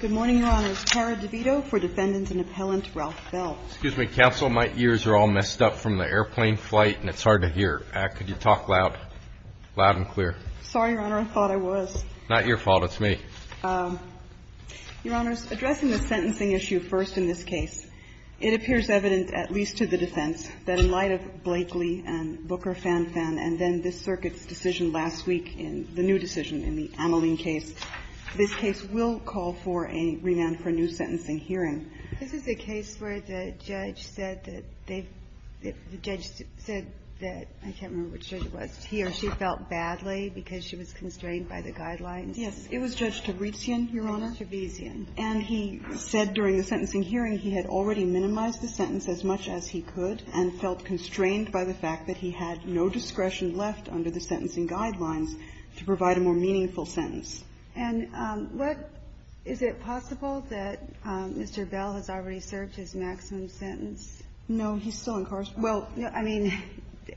Good morning, Your Honors. Tara DeVito for Defendant and Appellant Ralph Bell. Excuse me, counsel, my ears are all messed up from the airplane flight, and it's hard to hear. Could you talk loud? Loud and clear. Sorry, Your Honor. I thought I was. Not your fault. It's me. Your Honors, addressing the sentencing issue first in this case, it appears evident, at least to the defense, that in light of Blakely and Booker-Fan-Fan and then this case, will call for a remand for a new sentencing hearing. This is a case where the judge said that they've – the judge said that – I can't remember which judge it was. He or she felt badly because she was constrained by the guidelines. Yes. It was Judge Trevisan, Your Honor. Trevisan. And he said during the sentencing hearing he had already minimized the sentence as much as he could and felt constrained by the fact that he had no discretion left under the sentencing guidelines to provide a more meaningful sentence. And what – is it possible that Mr. Bell has already served his maximum sentence? No. He's still incarcerated. Well, I mean,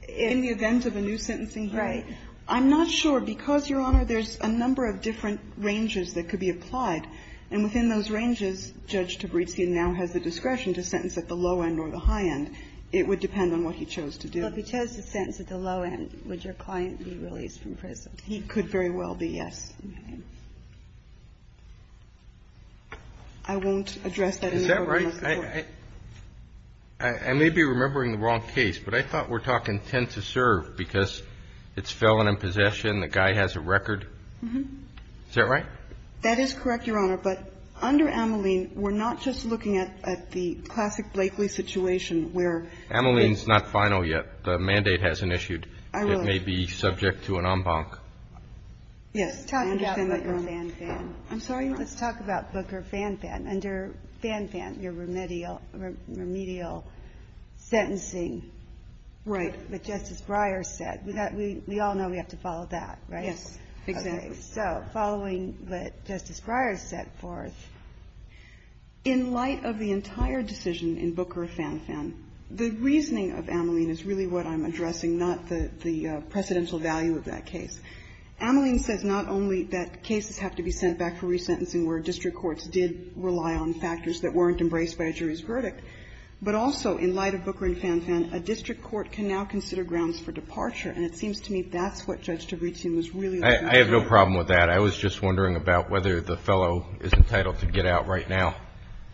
in the event of a new sentencing hearing, I'm not sure. Because, Your Honor, there's a number of different ranges that could be applied, and within those ranges, Judge Tabrizki now has the discretion to sentence at the low end or the high end. It would depend on what he chose to do. But if he chose to sentence at the low end, would your client be released from prison? He could very well be, yes. I won't address that in the program of the Court. Is that right? I may be remembering the wrong case, but I thought we're talking tend to serve because it's felon in possession, the guy has a record. Is that right? That is correct, Your Honor. But under Ameline, we're not just looking at the classic Blakely situation where it's – Ameline's not final yet. The mandate hasn't issued. I will. It may be subject to an en banc. Yes. I understand that, Your Honor. Let's talk about Booker Fanfan. I'm sorry? Let's talk about Booker Fanfan. Under Fanfan, your remedial sentencing. Right. That Justice Breyer said. We all know we have to follow that, right? Yes, exactly. So following what Justice Breyer set forth, in light of the entire decision in Booker Fanfan, the reasoning of Ameline is really what I'm addressing, not the precedential value of that case. Ameline says not only that cases have to be sent back for resentencing where district courts did rely on factors that weren't embraced by a jury's verdict, but also in light of Booker and Fanfan, a district court can now consider grounds for departure. And it seems to me that's what Judge D'Abrisian was really looking for. I have no problem with that. I was just wondering about whether the fellow is entitled to get out right now.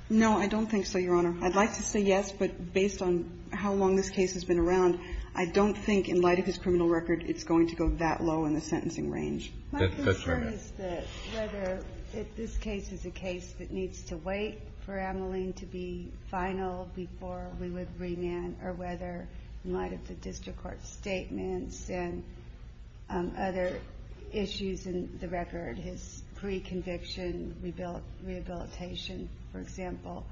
No, I don't think so, Your Honor. I'd like to say yes, but based on how long this case has been around, I don't think in light of his criminal record it's going to go that low in the sentencing range. My concern is that whether if this case is a case that needs to wait for Ameline to be final before we would remand, or whether in light of the district court's statements and other issues in the record, his pre-conviction rehabilitation, for example,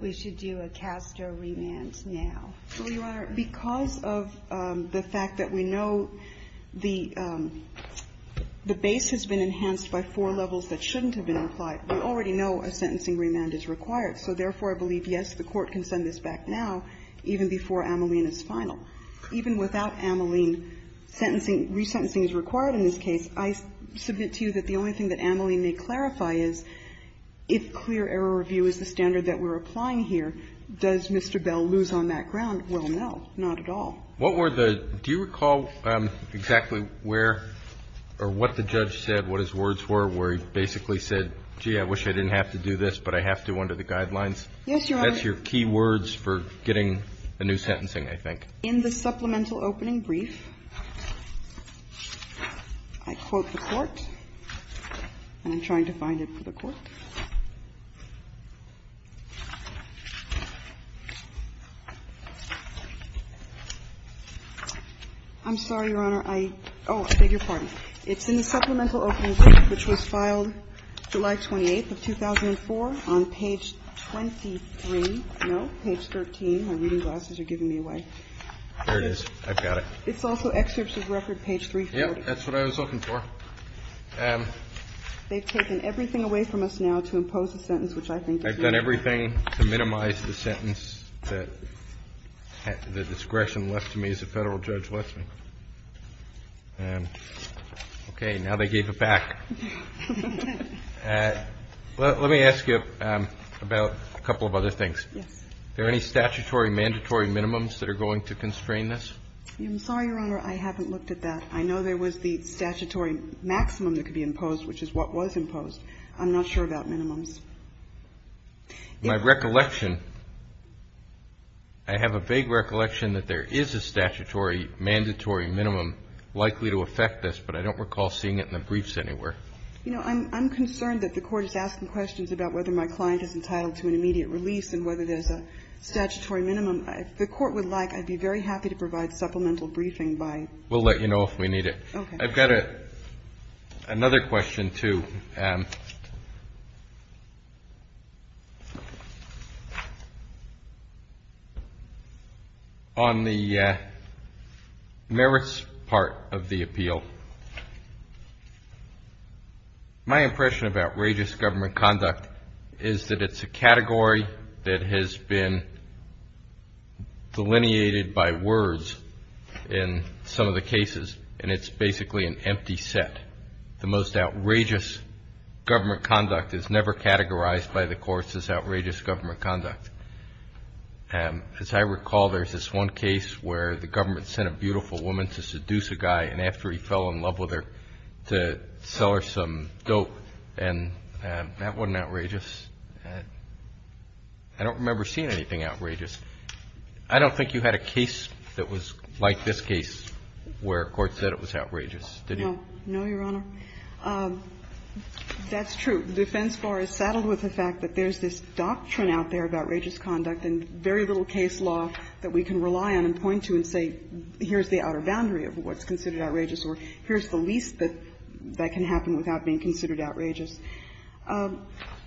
we should do a cast or remand now. Well, Your Honor, because of the fact that we know the base has been enhanced by four levels that shouldn't have been implied, we already know a sentencing remand is required. So therefore, I believe, yes, the Court can send this back now, even before Ameline is final. Even without Ameline, sentencing, resentencing is required in this case. I submit to you that the only thing that Ameline may clarify is, if clear error review is the standard that we're applying here, does Mr. Bell lose on that ground? Well, no, not at all. What were the – do you recall exactly where or what the judge said, what his words were, where he basically said, gee, I wish I didn't have to do this, but I have to under the guidelines? Yes, Your Honor. That's your key words for getting a new sentencing, I think. In the supplemental opening brief, I quote the Court, and I'm trying to find it for the Court. I'm sorry, Your Honor, I – oh, I beg your pardon. It's in the supplemental opening brief, which was filed July 28th of 2004, on page 23 – no, page 13, my reading glasses are giving me away. There it is. I've got it. It's also excerpts of record page 340. Yes, that's what I was looking for. They've taken everything away from us now to impose a sentence, which I think is needed. I've done everything to minimize the sentence that the discretion left to me as a Federal judge lets me. Okay. Now they gave it back. Let me ask you about a couple of other things. Yes. Are there any statutory mandatory minimums that are going to constrain this? I'm sorry, Your Honor, I haven't looked at that. I know there was the statutory maximum that could be imposed, which is what was imposed. I'm not sure about minimums. My recollection – I have a vague recollection that there is a statutory mandatory minimum likely to affect this, but I don't recall seeing it in the briefs anywhere. You know, I'm concerned that the Court is asking questions about whether my client is entitled to an immediate release and whether there's a statutory minimum. If the Court would like, I'd be very happy to provide supplemental briefing by – We'll let you know if we need it. I've got another question, too, on the merits part of the appeal. My impression of outrageous government conduct is that it's a category that has been and it's basically an empty set. The most outrageous government conduct is never categorized by the courts as outrageous government conduct. As I recall, there's this one case where the government sent a beautiful woman to seduce a guy, and after he fell in love with her, to sell her some dope, and that wasn't outrageous. I don't remember seeing anything outrageous. I don't think you had a case that was like this case where a court said it was outrageous, did you? No. No, Your Honor. That's true. The defense bar is saddled with the fact that there's this doctrine out there of outrageous conduct and very little case law that we can rely on and point to and say, here's the outer boundary of what's considered outrageous or here's the least that can happen without being considered outrageous.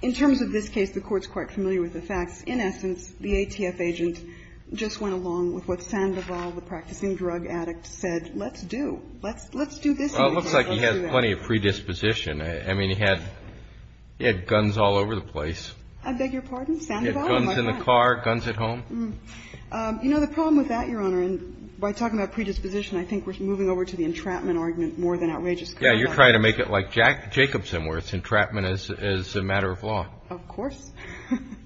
In terms of this case, the Court's quite familiar with the facts. In essence, the ATF agent just went along with what Sandoval, the practicing drug addict, said, let's do. Let's do this. Well, it looks like he has plenty of predisposition. I mean, he had guns all over the place. I beg your pardon? Sandoval? He had guns in the car, guns at home. You know, the problem with that, Your Honor, and by talking about predisposition, I think we're moving over to the entrapment argument more than outrageous conduct. Yeah. You're trying to make it like Jacobson where it's entrapment as a matter of law. Of course.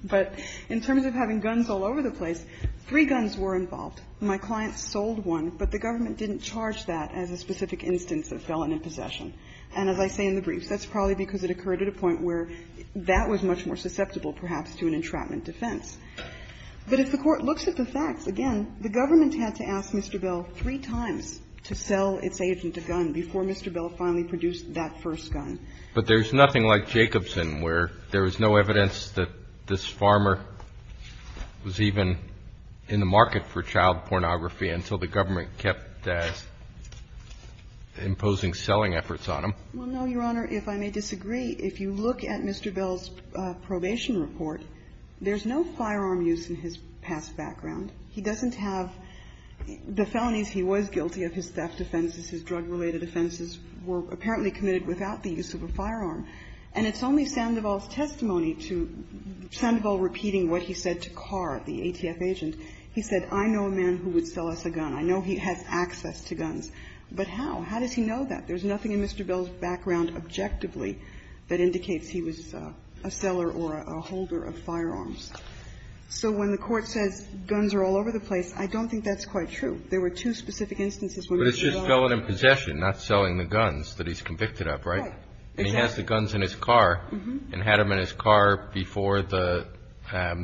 But in terms of having guns all over the place, three guns were involved. My client sold one, but the government didn't charge that as a specific instance of felon in possession. And as I say in the briefs, that's probably because it occurred at a point where that was much more susceptible, perhaps, to an entrapment defense. But if the Court looks at the facts, again, the government had to ask Mr. Bell three times to sell its agent a gun before Mr. Bell finally produced that first gun. But there's nothing like Jacobson where there is no evidence that this farmer was even in the market for child pornography until the government kept imposing selling efforts on him. Well, no, Your Honor. If I may disagree, if you look at Mr. Bell's probation report, there's no firearm use in his past background. He doesn't have the felonies. He was guilty of his theft offenses. His drug-related offenses were apparently committed without the use of a firearm. And it's only Sandoval's testimony to Sandoval repeating what he said to Carr, the ATF agent. He said, I know a man who would sell us a gun. I know he has access to guns. But how? How does he know that? There's nothing in Mr. Bell's background objectively that indicates he was a seller or a holder of firearms. So when the Court says guns are all over the place, I don't think that's quite true. There were two specific instances when Mr. Bell was in possession of a gun. He was in possession, not selling the guns that he's convicted of, right? Right. Exactly. And he has the guns in his car and had them in his car before the guy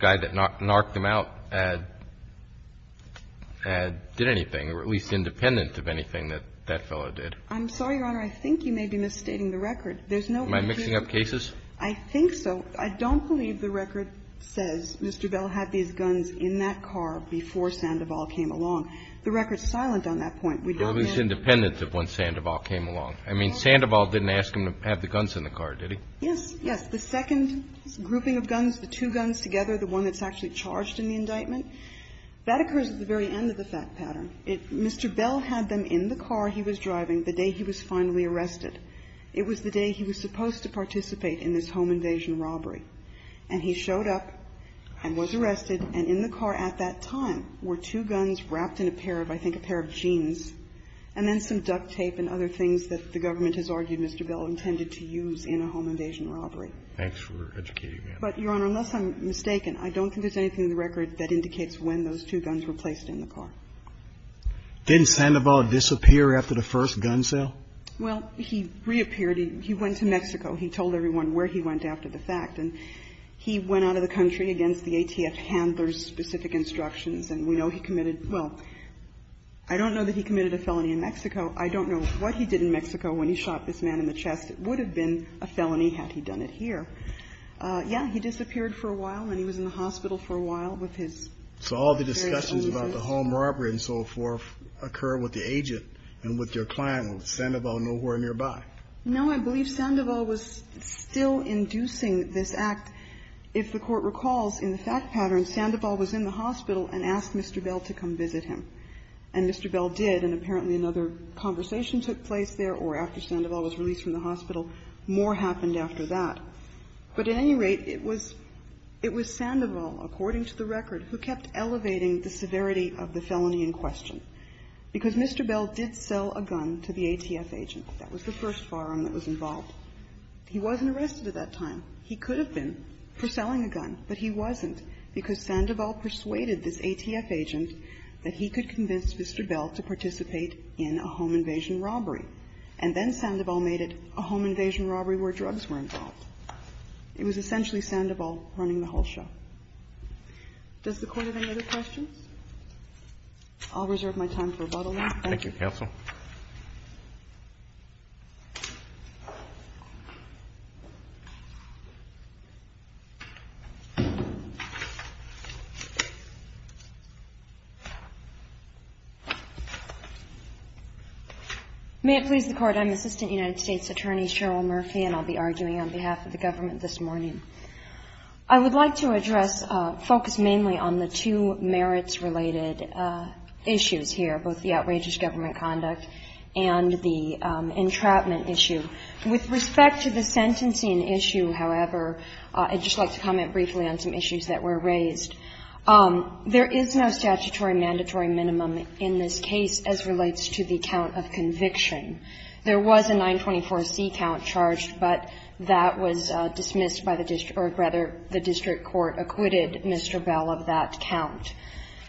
that knocked him out did anything, or at least independent of anything that that fellow did. I'm sorry, Your Honor. I think you may be misstating the record. There's no indication. Am I mixing up cases? I think so. I don't believe the record says Mr. Bell had these guns in that car before Sandoval came along. The record's silent on that point. Or at least independent of when Sandoval came along. I mean, Sandoval didn't ask him to have the guns in the car, did he? Yes. Yes. The second grouping of guns, the two guns together, the one that's actually charged in the indictment, that occurs at the very end of the fact pattern. Mr. Bell had them in the car he was driving the day he was finally arrested. It was the day he was supposed to participate in this home invasion robbery. And he showed up and was arrested, and in the car at that time were two guns wrapped in a pair of, I think, a pair of jeans, and then some duct tape and other things that the government has argued Mr. Bell intended to use in a home invasion robbery. But, Your Honor, unless I'm mistaken, I don't think there's anything in the record that indicates when those two guns were placed in the car. Didn't Sandoval disappear after the first gun sale? Well, he reappeared. He went to Mexico. He told everyone where he went after the fact. And he went out of the country against the ATF handlers' specific instructions. And we know he committed – well, I don't know that he committed a felony in Mexico. I don't know what he did in Mexico when he shot this man in the chest. It would have been a felony had he done it here. Yes, he disappeared for a while, and he was in the hospital for a while with his family. So all the discussions about the home robbery and so forth occur with the agent and with your client, with Sandoval, nowhere nearby? No, I believe Sandoval was still inducing this act. If the Court recalls, in the fact pattern, Sandoval was in the hospital and asked Mr. Bell to come visit him. And Mr. Bell did, and apparently another conversation took place there, or after Sandoval was released from the hospital, more happened after that. But at any rate, it was – it was Sandoval, according to the record, who kept elevating the severity of the felony in question, because Mr. Bell did sell a gun to the ATF agent. That was the first firearm that was involved. He wasn't arrested at that time. He could have been for selling a gun, but he wasn't, because Sandoval persuaded this ATF agent that he could convince Mr. Bell to participate in a home invasion robbery. And then Sandoval made it a home invasion robbery where drugs were involved. It was essentially Sandoval running the whole show. Does the Court have any other questions? I'll reserve my time for rebuttal. Roberts. Thank you, counsel. May it please the Court, I'm Assistant United States Attorney Cheryl Murphy, and I'll be arguing on behalf of the government this morning. I would like to address – focus mainly on the two merits-related issues here, both the crime-related issue and the entrapment issue. With respect to the sentencing issue, however, I'd just like to comment briefly on some issues that were raised. There is no statutory mandatory minimum in this case as relates to the count of conviction. There was a 924C count charged, but that was dismissed by the district – or, rather, the district court acquitted Mr. Bell of that count.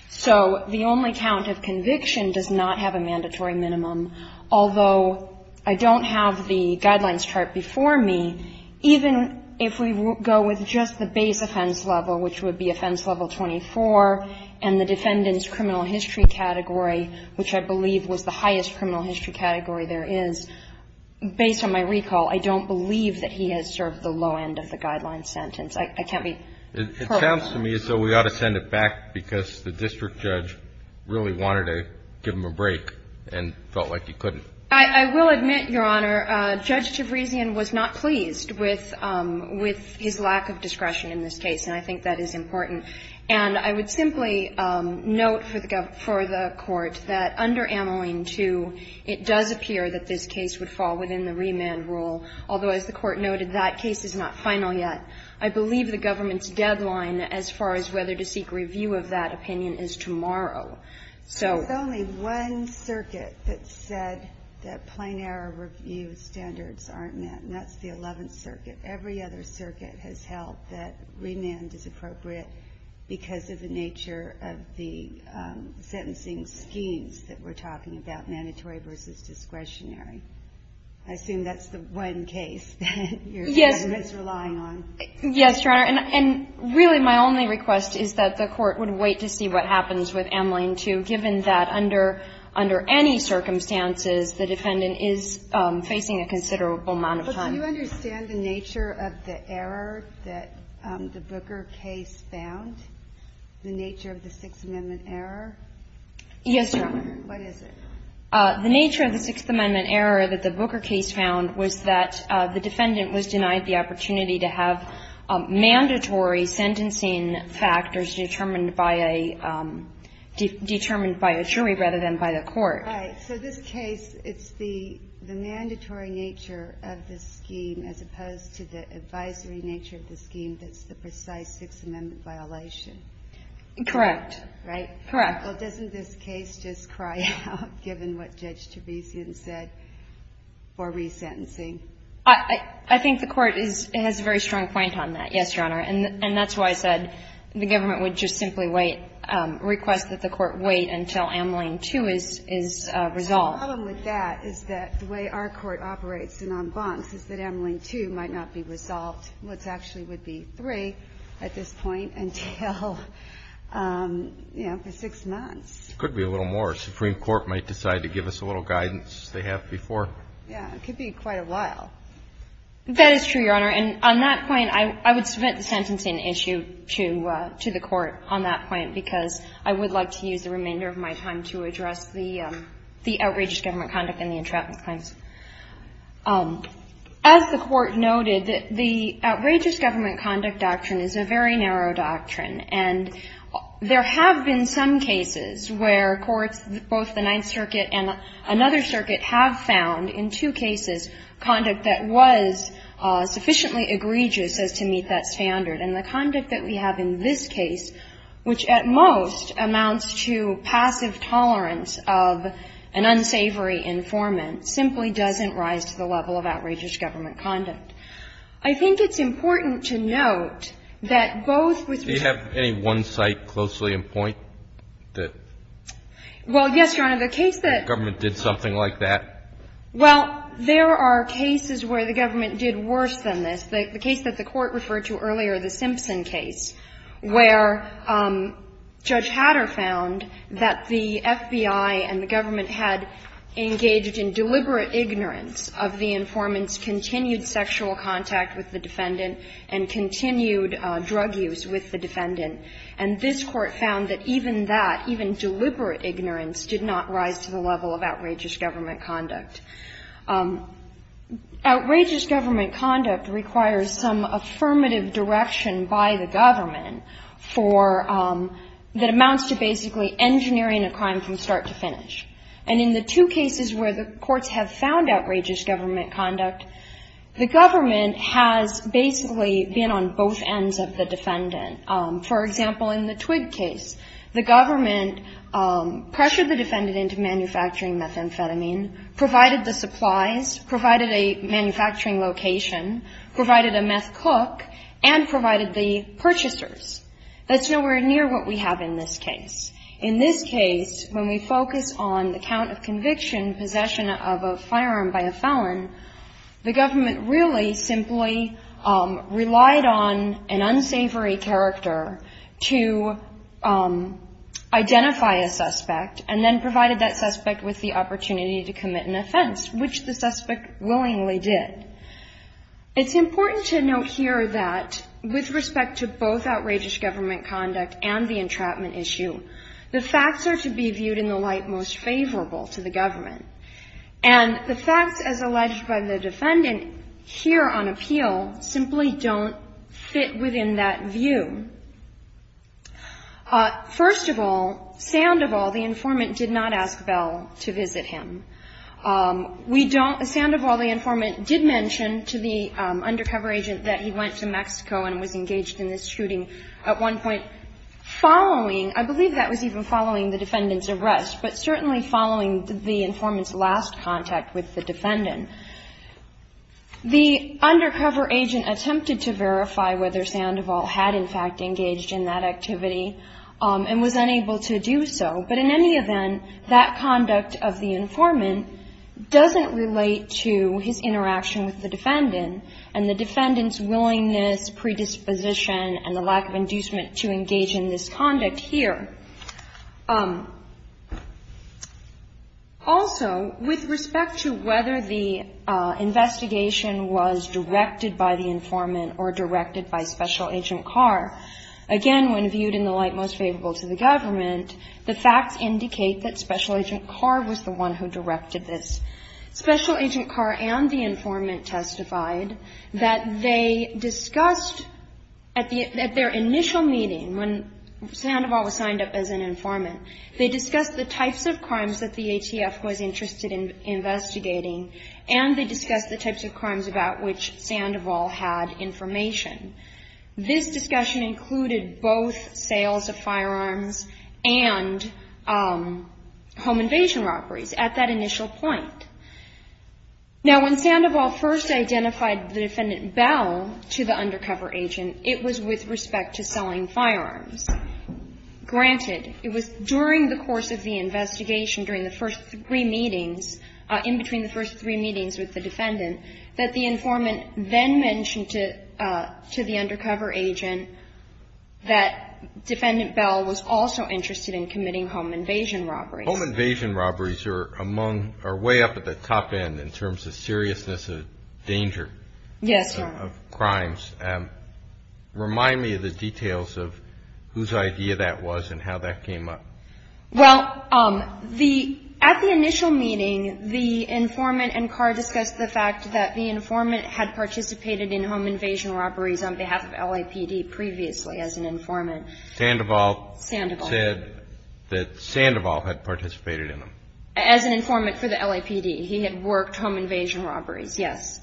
So the only count of conviction does not have a mandatory minimum, although I don't have the Guidelines chart before me. Even if we go with just the base offense level, which would be offense level 24, and the defendant's criminal history category, which I believe was the highest criminal history category there is, based on my recall, I don't believe that he has served the low end of the Guidelines sentence. I can't be perfect. It sounds to me as though we ought to send it back because the district judge really wanted to give him a break and felt like he couldn't. I will admit, Your Honor, Judge Tavrizian was not pleased with – with his lack of discretion in this case, and I think that is important. And I would simply note for the government – for the Court that under Amaline II it does appear that this case would fall within the remand rule, although, as the Court noted, that case is not final yet. I believe the government's deadline as far as whether to seek review of that opinion is tomorrow, so – There's only one circuit that said that plain error review standards aren't met, and that's the Eleventh Circuit. Every other circuit has held that remand is appropriate because of the nature of the sentencing schemes that we're talking about, mandatory versus discretionary. I assume that's the one case that your government's relying on. Yes, Your Honor. And really my only request is that the Court would wait to see what happens with Amaline II, given that under – under any circumstances the defendant is facing a considerable amount of time. But do you understand the nature of the error that the Booker case found, the nature of the Sixth Amendment error? Yes, Your Honor. What is it? The nature of the Sixth Amendment error that the Booker case found was that the defendant was denied the opportunity to have mandatory sentencing factors determined by a – determined by a jury rather than by the Court. Right. So this case, it's the – the mandatory nature of the scheme as opposed to the advisory nature of the scheme that's the precise Sixth Amendment violation. Correct. Right? Correct. Well, doesn't this case just cry out, given what Judge Teresian said, for resentencing? I – I think the Court is – has a very strong point on that, yes, Your Honor. And that's why I said the Government would just simply wait – request that the Court wait until Amaline II is – is resolved. The problem with that is that the way our Court operates in en bancs is that Amaline II might not be resolved, which actually would be III at this point until, you know, for six months. It could be a little more. The Supreme Court might decide to give us a little guidance. They have before. Yeah. It could be quite a while. That is true, Your Honor. And on that point, I would submit the sentencing issue to – to the Court on that point because I would like to use the remainder of my time to address the – the outrageous government conduct and the entrapment claims. As the Court noted, the outrageous government conduct doctrine is a very narrow doctrine. And there have been some cases where courts, both the Ninth Circuit and another circuit, have found in two cases conduct that was sufficiently egregious as to meet that standard. And the conduct that we have in this case, which at most amounts to passive tolerance of an unsavory informant, simply doesn't rise to the level of outrageous government conduct. I think it's important to note that both with respect to the – Do you have any one site closely in point that – Well, yes, Your Honor. The case that – The government did something like that? Well, there are cases where the government did worse than this. The case that the Court referred to earlier, the Simpson case, where Judge Hatter found that the FBI and the government had engaged in deliberate ignorance of the informant's continued sexual contact with the defendant and continued drug use with the defendant. And this Court found that even that, even deliberate ignorance, did not rise to the level of outrageous government conduct. Outrageous government conduct requires some affirmative direction by the government for – that amounts to basically engineering a crime from start to finish. And in the two cases where the courts have found outrageous government conduct, the government has basically been on both ends of the defendant. For example, in the Twigg case, the government pressured the defendant into manufacturing methamphetamine, provided the supplies, provided a manufacturing location, provided a meth cook, and provided the purchasers. That's nowhere near what we have in this case. In this case, when we focus on the count of conviction, possession of a firearm by the felon, the government really simply relied on an unsavory character to identify a suspect and then provided that suspect with the opportunity to commit an offense, which the suspect willingly did. It's important to note here that with respect to both outrageous government conduct and the entrapment issue, the facts are to be viewed in the light most favorable to the government. And the facts, as alleged by the defendant here on appeal, simply don't fit within that view. First of all, sound of all, the informant did not ask Bell to visit him. We don't – sound of all, the informant did mention to the undercover agent that he went to Mexico and was engaged in this shooting at one point following – I believe that was even following the defendant's arrest, but certainly following the informant's last contact with the defendant. The undercover agent attempted to verify whether sound of all had in fact engaged in that activity and was unable to do so. But in any event, that conduct of the informant doesn't relate to his interaction with the defendant and the defendant's willingness, predisposition, and the lack of inducement to engage in this conduct here. Also, with respect to whether the investigation was directed by the informant or directed by Special Agent Carr, again, when viewed in the light most favorable to the government, the facts indicate that Special Agent Carr was the one who directed this. Special Agent Carr and the informant testified that they discussed at their initial meeting, when sound of all was signed up as an informant, they discussed the types of crimes that the ATF was interested in investigating and they discussed the types of crimes about which sound of all had information. This discussion included both sales of firearms and home invasion robberies at that initial point. Now, when sound of all first identified the defendant Bell to the undercover agent, it was with respect to selling firearms. Granted, it was during the course of the investigation, during the first three meetings, in between the first three meetings with the defendant, that the informant then mentioned to the undercover agent that Defendant Bell was also interested in committing home invasion robberies. Home invasion robberies are among, are way up at the top end in terms of seriousness of danger. Yes. Of crimes. Remind me of the details of whose idea that was and how that came up. Well, at the initial meeting, the informant and Carr discussed the fact that the informant had participated in home invasion robberies on behalf of LAPD previously as an informant. Sound of all said that sound of all had participated in them. As an informant for the LAPD. He had worked home invasion robberies. Yes.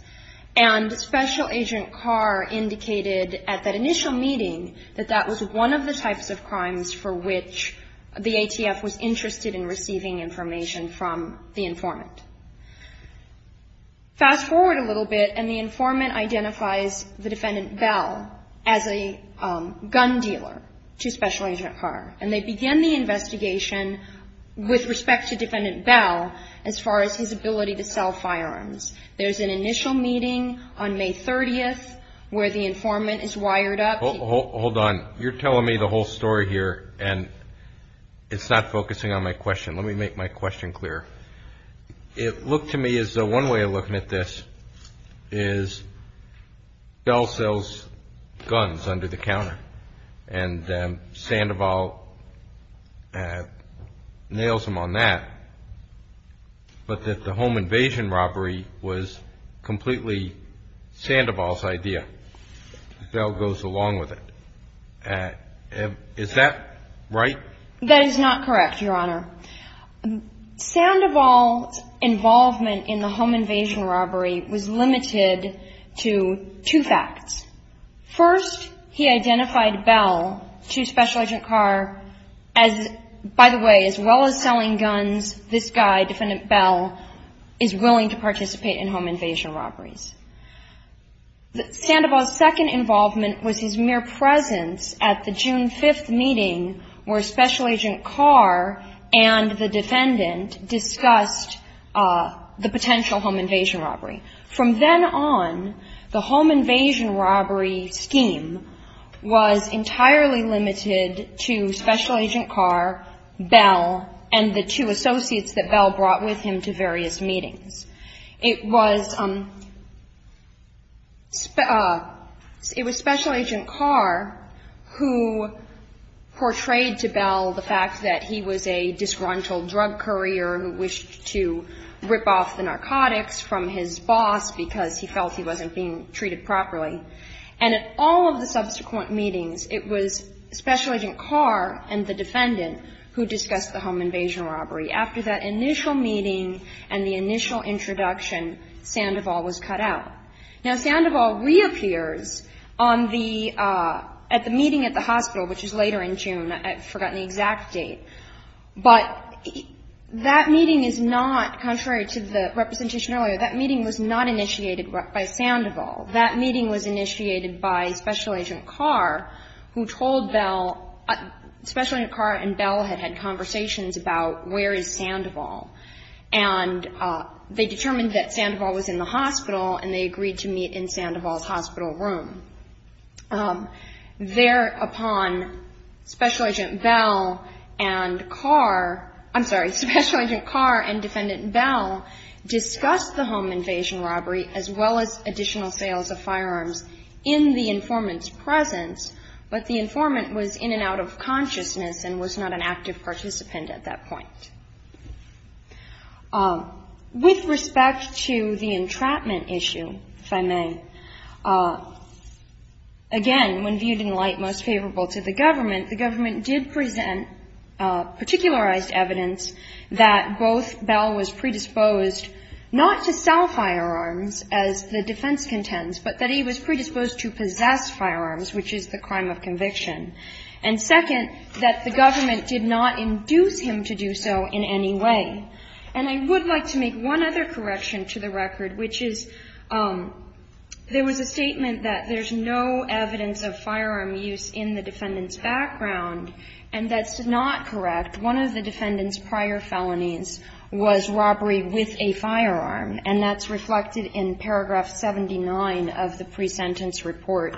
And Special Agent Carr indicated at that initial meeting that that was one of the types of crimes for which the ATF was interested in receiving information from the informant. Fast forward a little bit and the informant identifies the defendant Bell as a gun dealer to Special Agent Carr. And they began the investigation with respect to Defendant Bell as far as his ability to sell firearms. There's an initial meeting on May 30th where the informant is wired up. Hold on. You're telling me the whole story here and it's not focusing on my question. Let me make my question clear. It looked to me as though one way of looking at this is Bell sells guns under the counter. And Sandoval nails him on that. But that the home invasion robbery was completely Sandoval's idea. Bell goes along with it. Is that right? That is not correct, Your Honor. Sound of all involvement in the home invasion robbery was limited to two facts. First, he identified Bell to Special Agent Carr as, by the way, as well as selling guns, this guy, Defendant Bell, is willing to participate in home invasion robberies. Sandoval's second involvement was his mere presence at the June 5th meeting where Special Agent Carr and the defendant discussed the potential home invasion robbery. From then on, the home invasion robbery scheme was entirely limited to Special Agent Carr, Bell, and the two associates that Bell brought with him to various meetings. It was Special Agent Carr who portrayed to Bell the fact that he was a disgruntled drug courier who wished to rip off the narcotics from his boss because he felt he wasn't being treated properly. And at all of the subsequent meetings, it was Special Agent Carr and the defendant who discussed the home invasion robbery. After that initial meeting and the initial introduction, Sandoval was cut out. Now, Sandoval reappears at the meeting at the hospital, which is later in June. I've forgotten the exact date. But that meeting is not, contrary to the representation earlier, that meeting was not initiated by Sandoval. That meeting was initiated by Special Agent Carr, who told Bell, Special Agent Carr and Bell had had conversations about where is Sandoval. And they determined that Sandoval was in the hospital and they agreed to meet in Sandoval's hospital room. Thereupon, Special Agent Bell and Carr, I'm sorry, Special Agent Carr and Defendant Bell discussed the home invasion robbery as well as additional sales of firearms in the informant's presence. But the informant was in and out of consciousness and was not an active participant at that point. With respect to the entrapment issue, if I may, again, when viewed in light most favorable to the government, the government did present particularized evidence that both Bell was predisposed not to sell firearms as the defense contends, but that he was predisposed to possess firearms, which is the crime of conviction. And second, that the government did not induce him to do so in any way. And I would like to make one other correction to the record, which is there was a statement that there's no evidence of firearm use in the defendant's background, and that's not correct. One of the defendant's prior felonies was robbery with a firearm, and that's reflected in paragraph 79 of the pre-sentence report.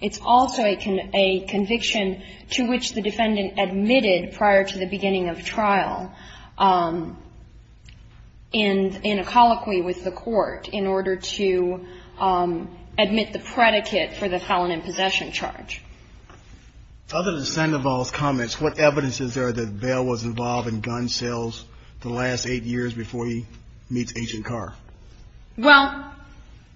It's also a conviction to which the defendant admitted prior to the beginning of trial in a colloquy with the court in order to admit the predicate for the felon in possession charge. Other than Sandoval's comments, what evidence is there that Bell was involved in gun sales the last eight years before he meets Agent Carr? Well,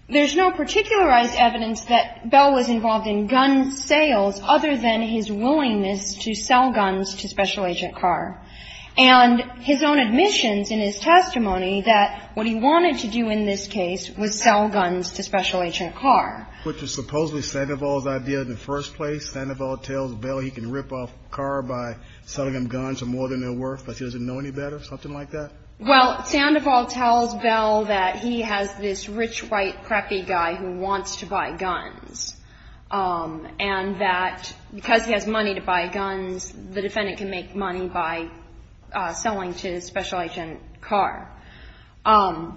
there's no particularized evidence that Bell was involved in gun sales other than his willingness to sell guns to Special Agent Carr. And his own admissions in his testimony that what he wanted to do in this case was sell guns to Special Agent Carr. Which is supposedly Sandoval's idea in the first place. Sandoval tells Bell he can rip off Carr by selling him guns for more than they're worth, but he doesn't know any better, something like that? Well, Sandoval tells Bell that he has this rich, white, preppy guy who wants to buy guns, and that because he has money to buy guns, the defendant can make money by selling to Special Agent Carr. And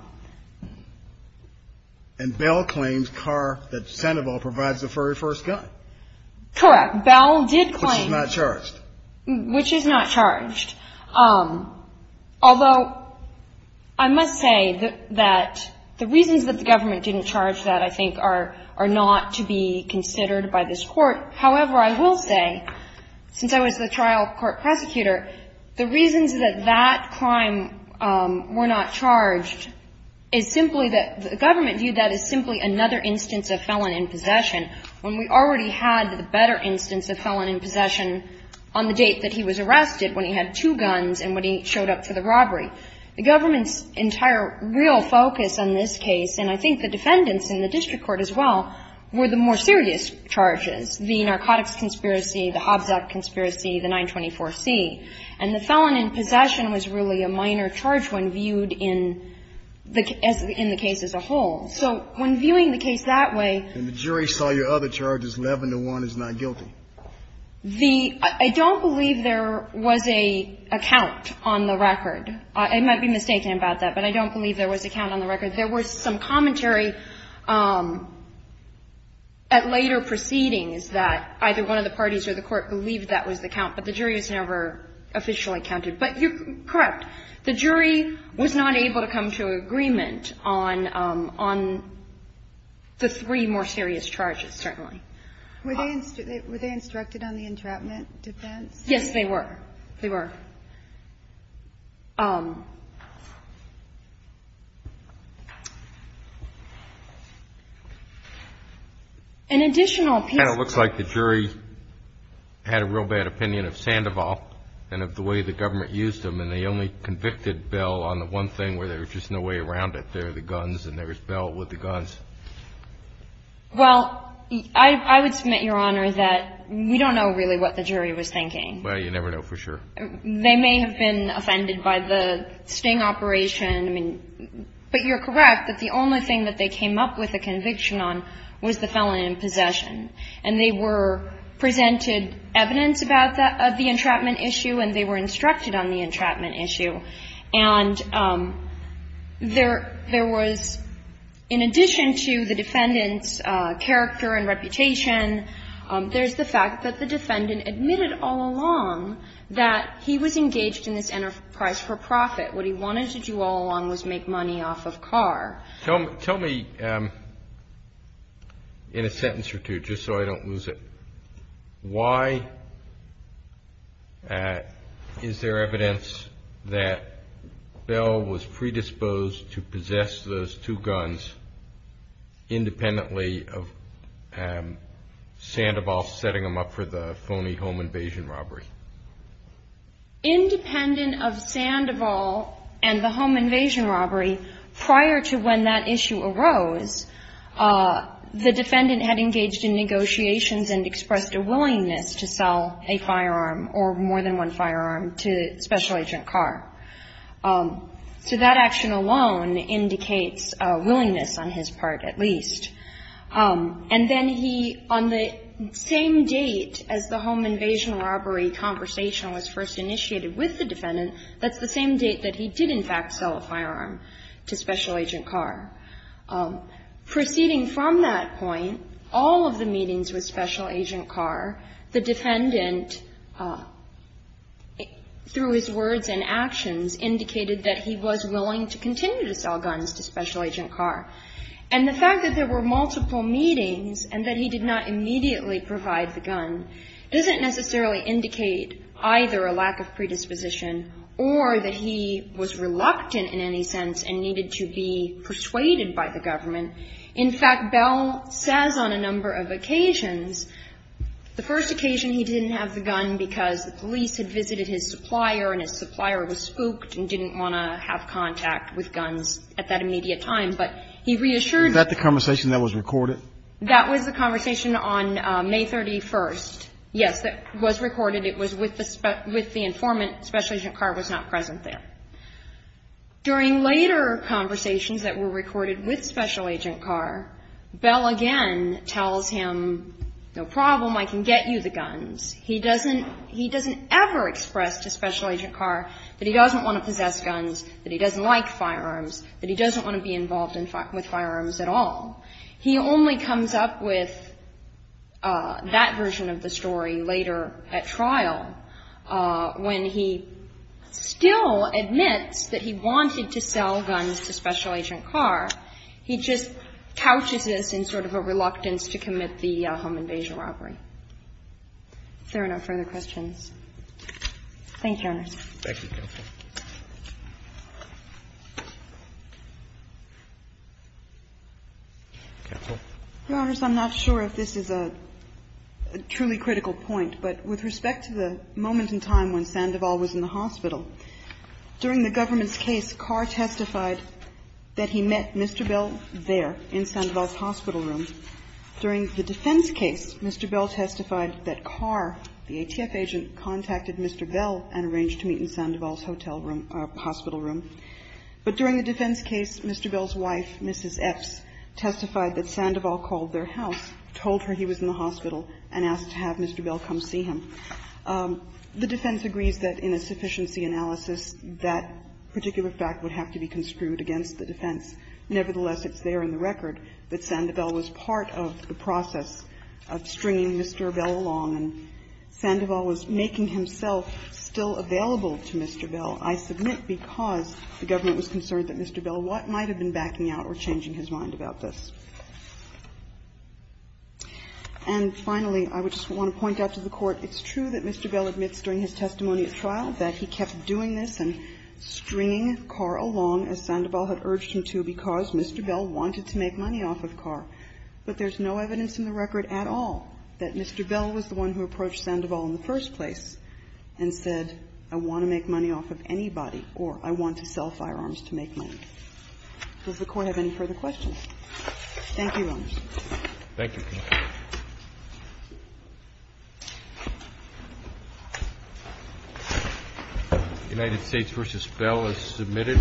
Bell claims Carr, that Sandoval provides the very first gun? Correct. Bell did claim. Which is not charged. Which is not charged. Although, I must say that the reasons that the government didn't charge that, I think, are not to be considered by this Court. However, I will say, since I was the trial court prosecutor, the reasons that that crime were not charged is simply that the government viewed that as simply another instance of felon in possession. When we already had the better instance of felon in possession on the date that he was charged, when he showed up for the two guns and when he showed up for the robbery. The government's entire real focus on this case, and I think the defendants in the district court as well, were the more serious charges, the narcotics conspiracy, the Hobbs Act conspiracy, the 924C. And the felon in possession was really a minor charge when viewed in the case as a whole. So, when viewing the case that way. And the jury saw your other charges, 11 to 1 is not guilty. The, I don't believe there was a count on the record. I might be mistaken about that, but I don't believe there was a count on the record. There was some commentary at later proceedings that either one of the parties or the court believed that was the count, but the jury has never officially counted. But you're correct. The jury was not able to come to agreement on the three more serious charges, certainly. Were they instructed on the entrapment defense? Yes, they were. They were. An additional piece. It looks like the jury had a real bad opinion of Sandoval and of the way the government used him. And they only convicted Bell on the one thing where there was just no way around it. There are the guns and there was Bell with the guns. Well, I would submit, Your Honor, that we don't know really what the jury was thinking. Well, you never know for sure. They may have been offended by the sting operation. I mean, but you're correct that the only thing that they came up with a conviction on was the felon in possession. And they were presented evidence about that, of the entrapment issue, and they were instructed on the entrapment issue. And there was, in addition to the defendant's character and reputation, there's the fact that the defendant admitted all along that he was engaged in this enterprise for profit. What he wanted to do all along was make money off of Carr. Tell me in a sentence or two, just so I don't lose it. Why is there evidence that Bell was predisposed to possess those two guns, independently of Sandoval setting them up for the phony home invasion robbery? Independent of Sandoval and the home invasion robbery, prior to when that issue occurred, Bell was not willing to sell a firearm, or more than one firearm, to Special Agent Carr. So that action alone indicates a willingness on his part, at least. And then he, on the same date as the home invasion robbery conversation was first initiated with the defendant, that's the same date that he did, in fact, sell a firearm to Special Agent Carr. Proceeding from that point, all of the meetings with Special Agent Carr, the defendant, through his words and actions, indicated that he was willing to continue to sell guns to Special Agent Carr. And the fact that there were multiple meetings and that he did not immediately provide the gun doesn't necessarily indicate either a lack of predisposition or that he was reluctant in any sense and needed to be persuaded by the government. In fact, Bell says on a number of occasions, the first occasion he didn't have the gun because the police had visited his supplier and his supplier was spooked and didn't want to have contact with guns at that immediate time. But he reassured that the conversation that was recorded, that was the conversation on May 31st. Yes, that was recorded. It was with the informant. Special Agent Carr was not present there. During later conversations that were recorded with Special Agent Carr, Bell again tells him, no problem, I can get you the guns. He doesn't, he doesn't ever express to Special Agent Carr that he doesn't want to possess guns, that he doesn't like firearms, that he doesn't want to be involved with firearms at all. He only comes up with that version of the story later at trial when he still admits that he wanted to sell guns to Special Agent Carr. He just couches this in sort of a reluctance to commit the home invasion robbery. If there are no further questions. Thank you, Your Honor. Thank you, Counsel. Counsel. Your Honor, I'm not sure if this is a truly critical point, but with respect to the moment in time when Sandoval was in the hospital, during the government's case, Carr testified that he met Mr. Bell there in Sandoval's hospital room. During the defense case, Mr. Bell testified that Carr, the ATF agent, contacted Mr. Bell and arranged to meet in Sandoval's hotel room or hospital room. But during the defense case, Mr. Bell's wife, Mrs. Epps, testified that Sandoval called their house, told her he was in the hospital, and asked to have Mr. Bell come see him. The defense agrees that in a sufficiency analysis, that particular fact would have to be construed against the defense. Nevertheless, it's there in the record that Sandoval was part of the process of stringing Mr. Bell along, and Sandoval was making himself still available to Mr. Bell, I submit, because the government was concerned that Mr. Bell might have been backing out or changing his mind about this. And finally, I would just want to point out to the Court, it's true that Mr. Bell admits during his testimony at trial that he kept doing this and stringing Carr along as Sandoval had urged him to because Mr. Bell wanted to make money off of Carr. But there's no evidence in the record at all that Mr. Bell was the one who approached Sandoval in the first place and said, I want to make money off of anybody, or I want to sell firearms to make money. Does the Court have any further questions? Thank you, Your Honors. Roberts. Thank you, counsel. United States v. Bell is submitted.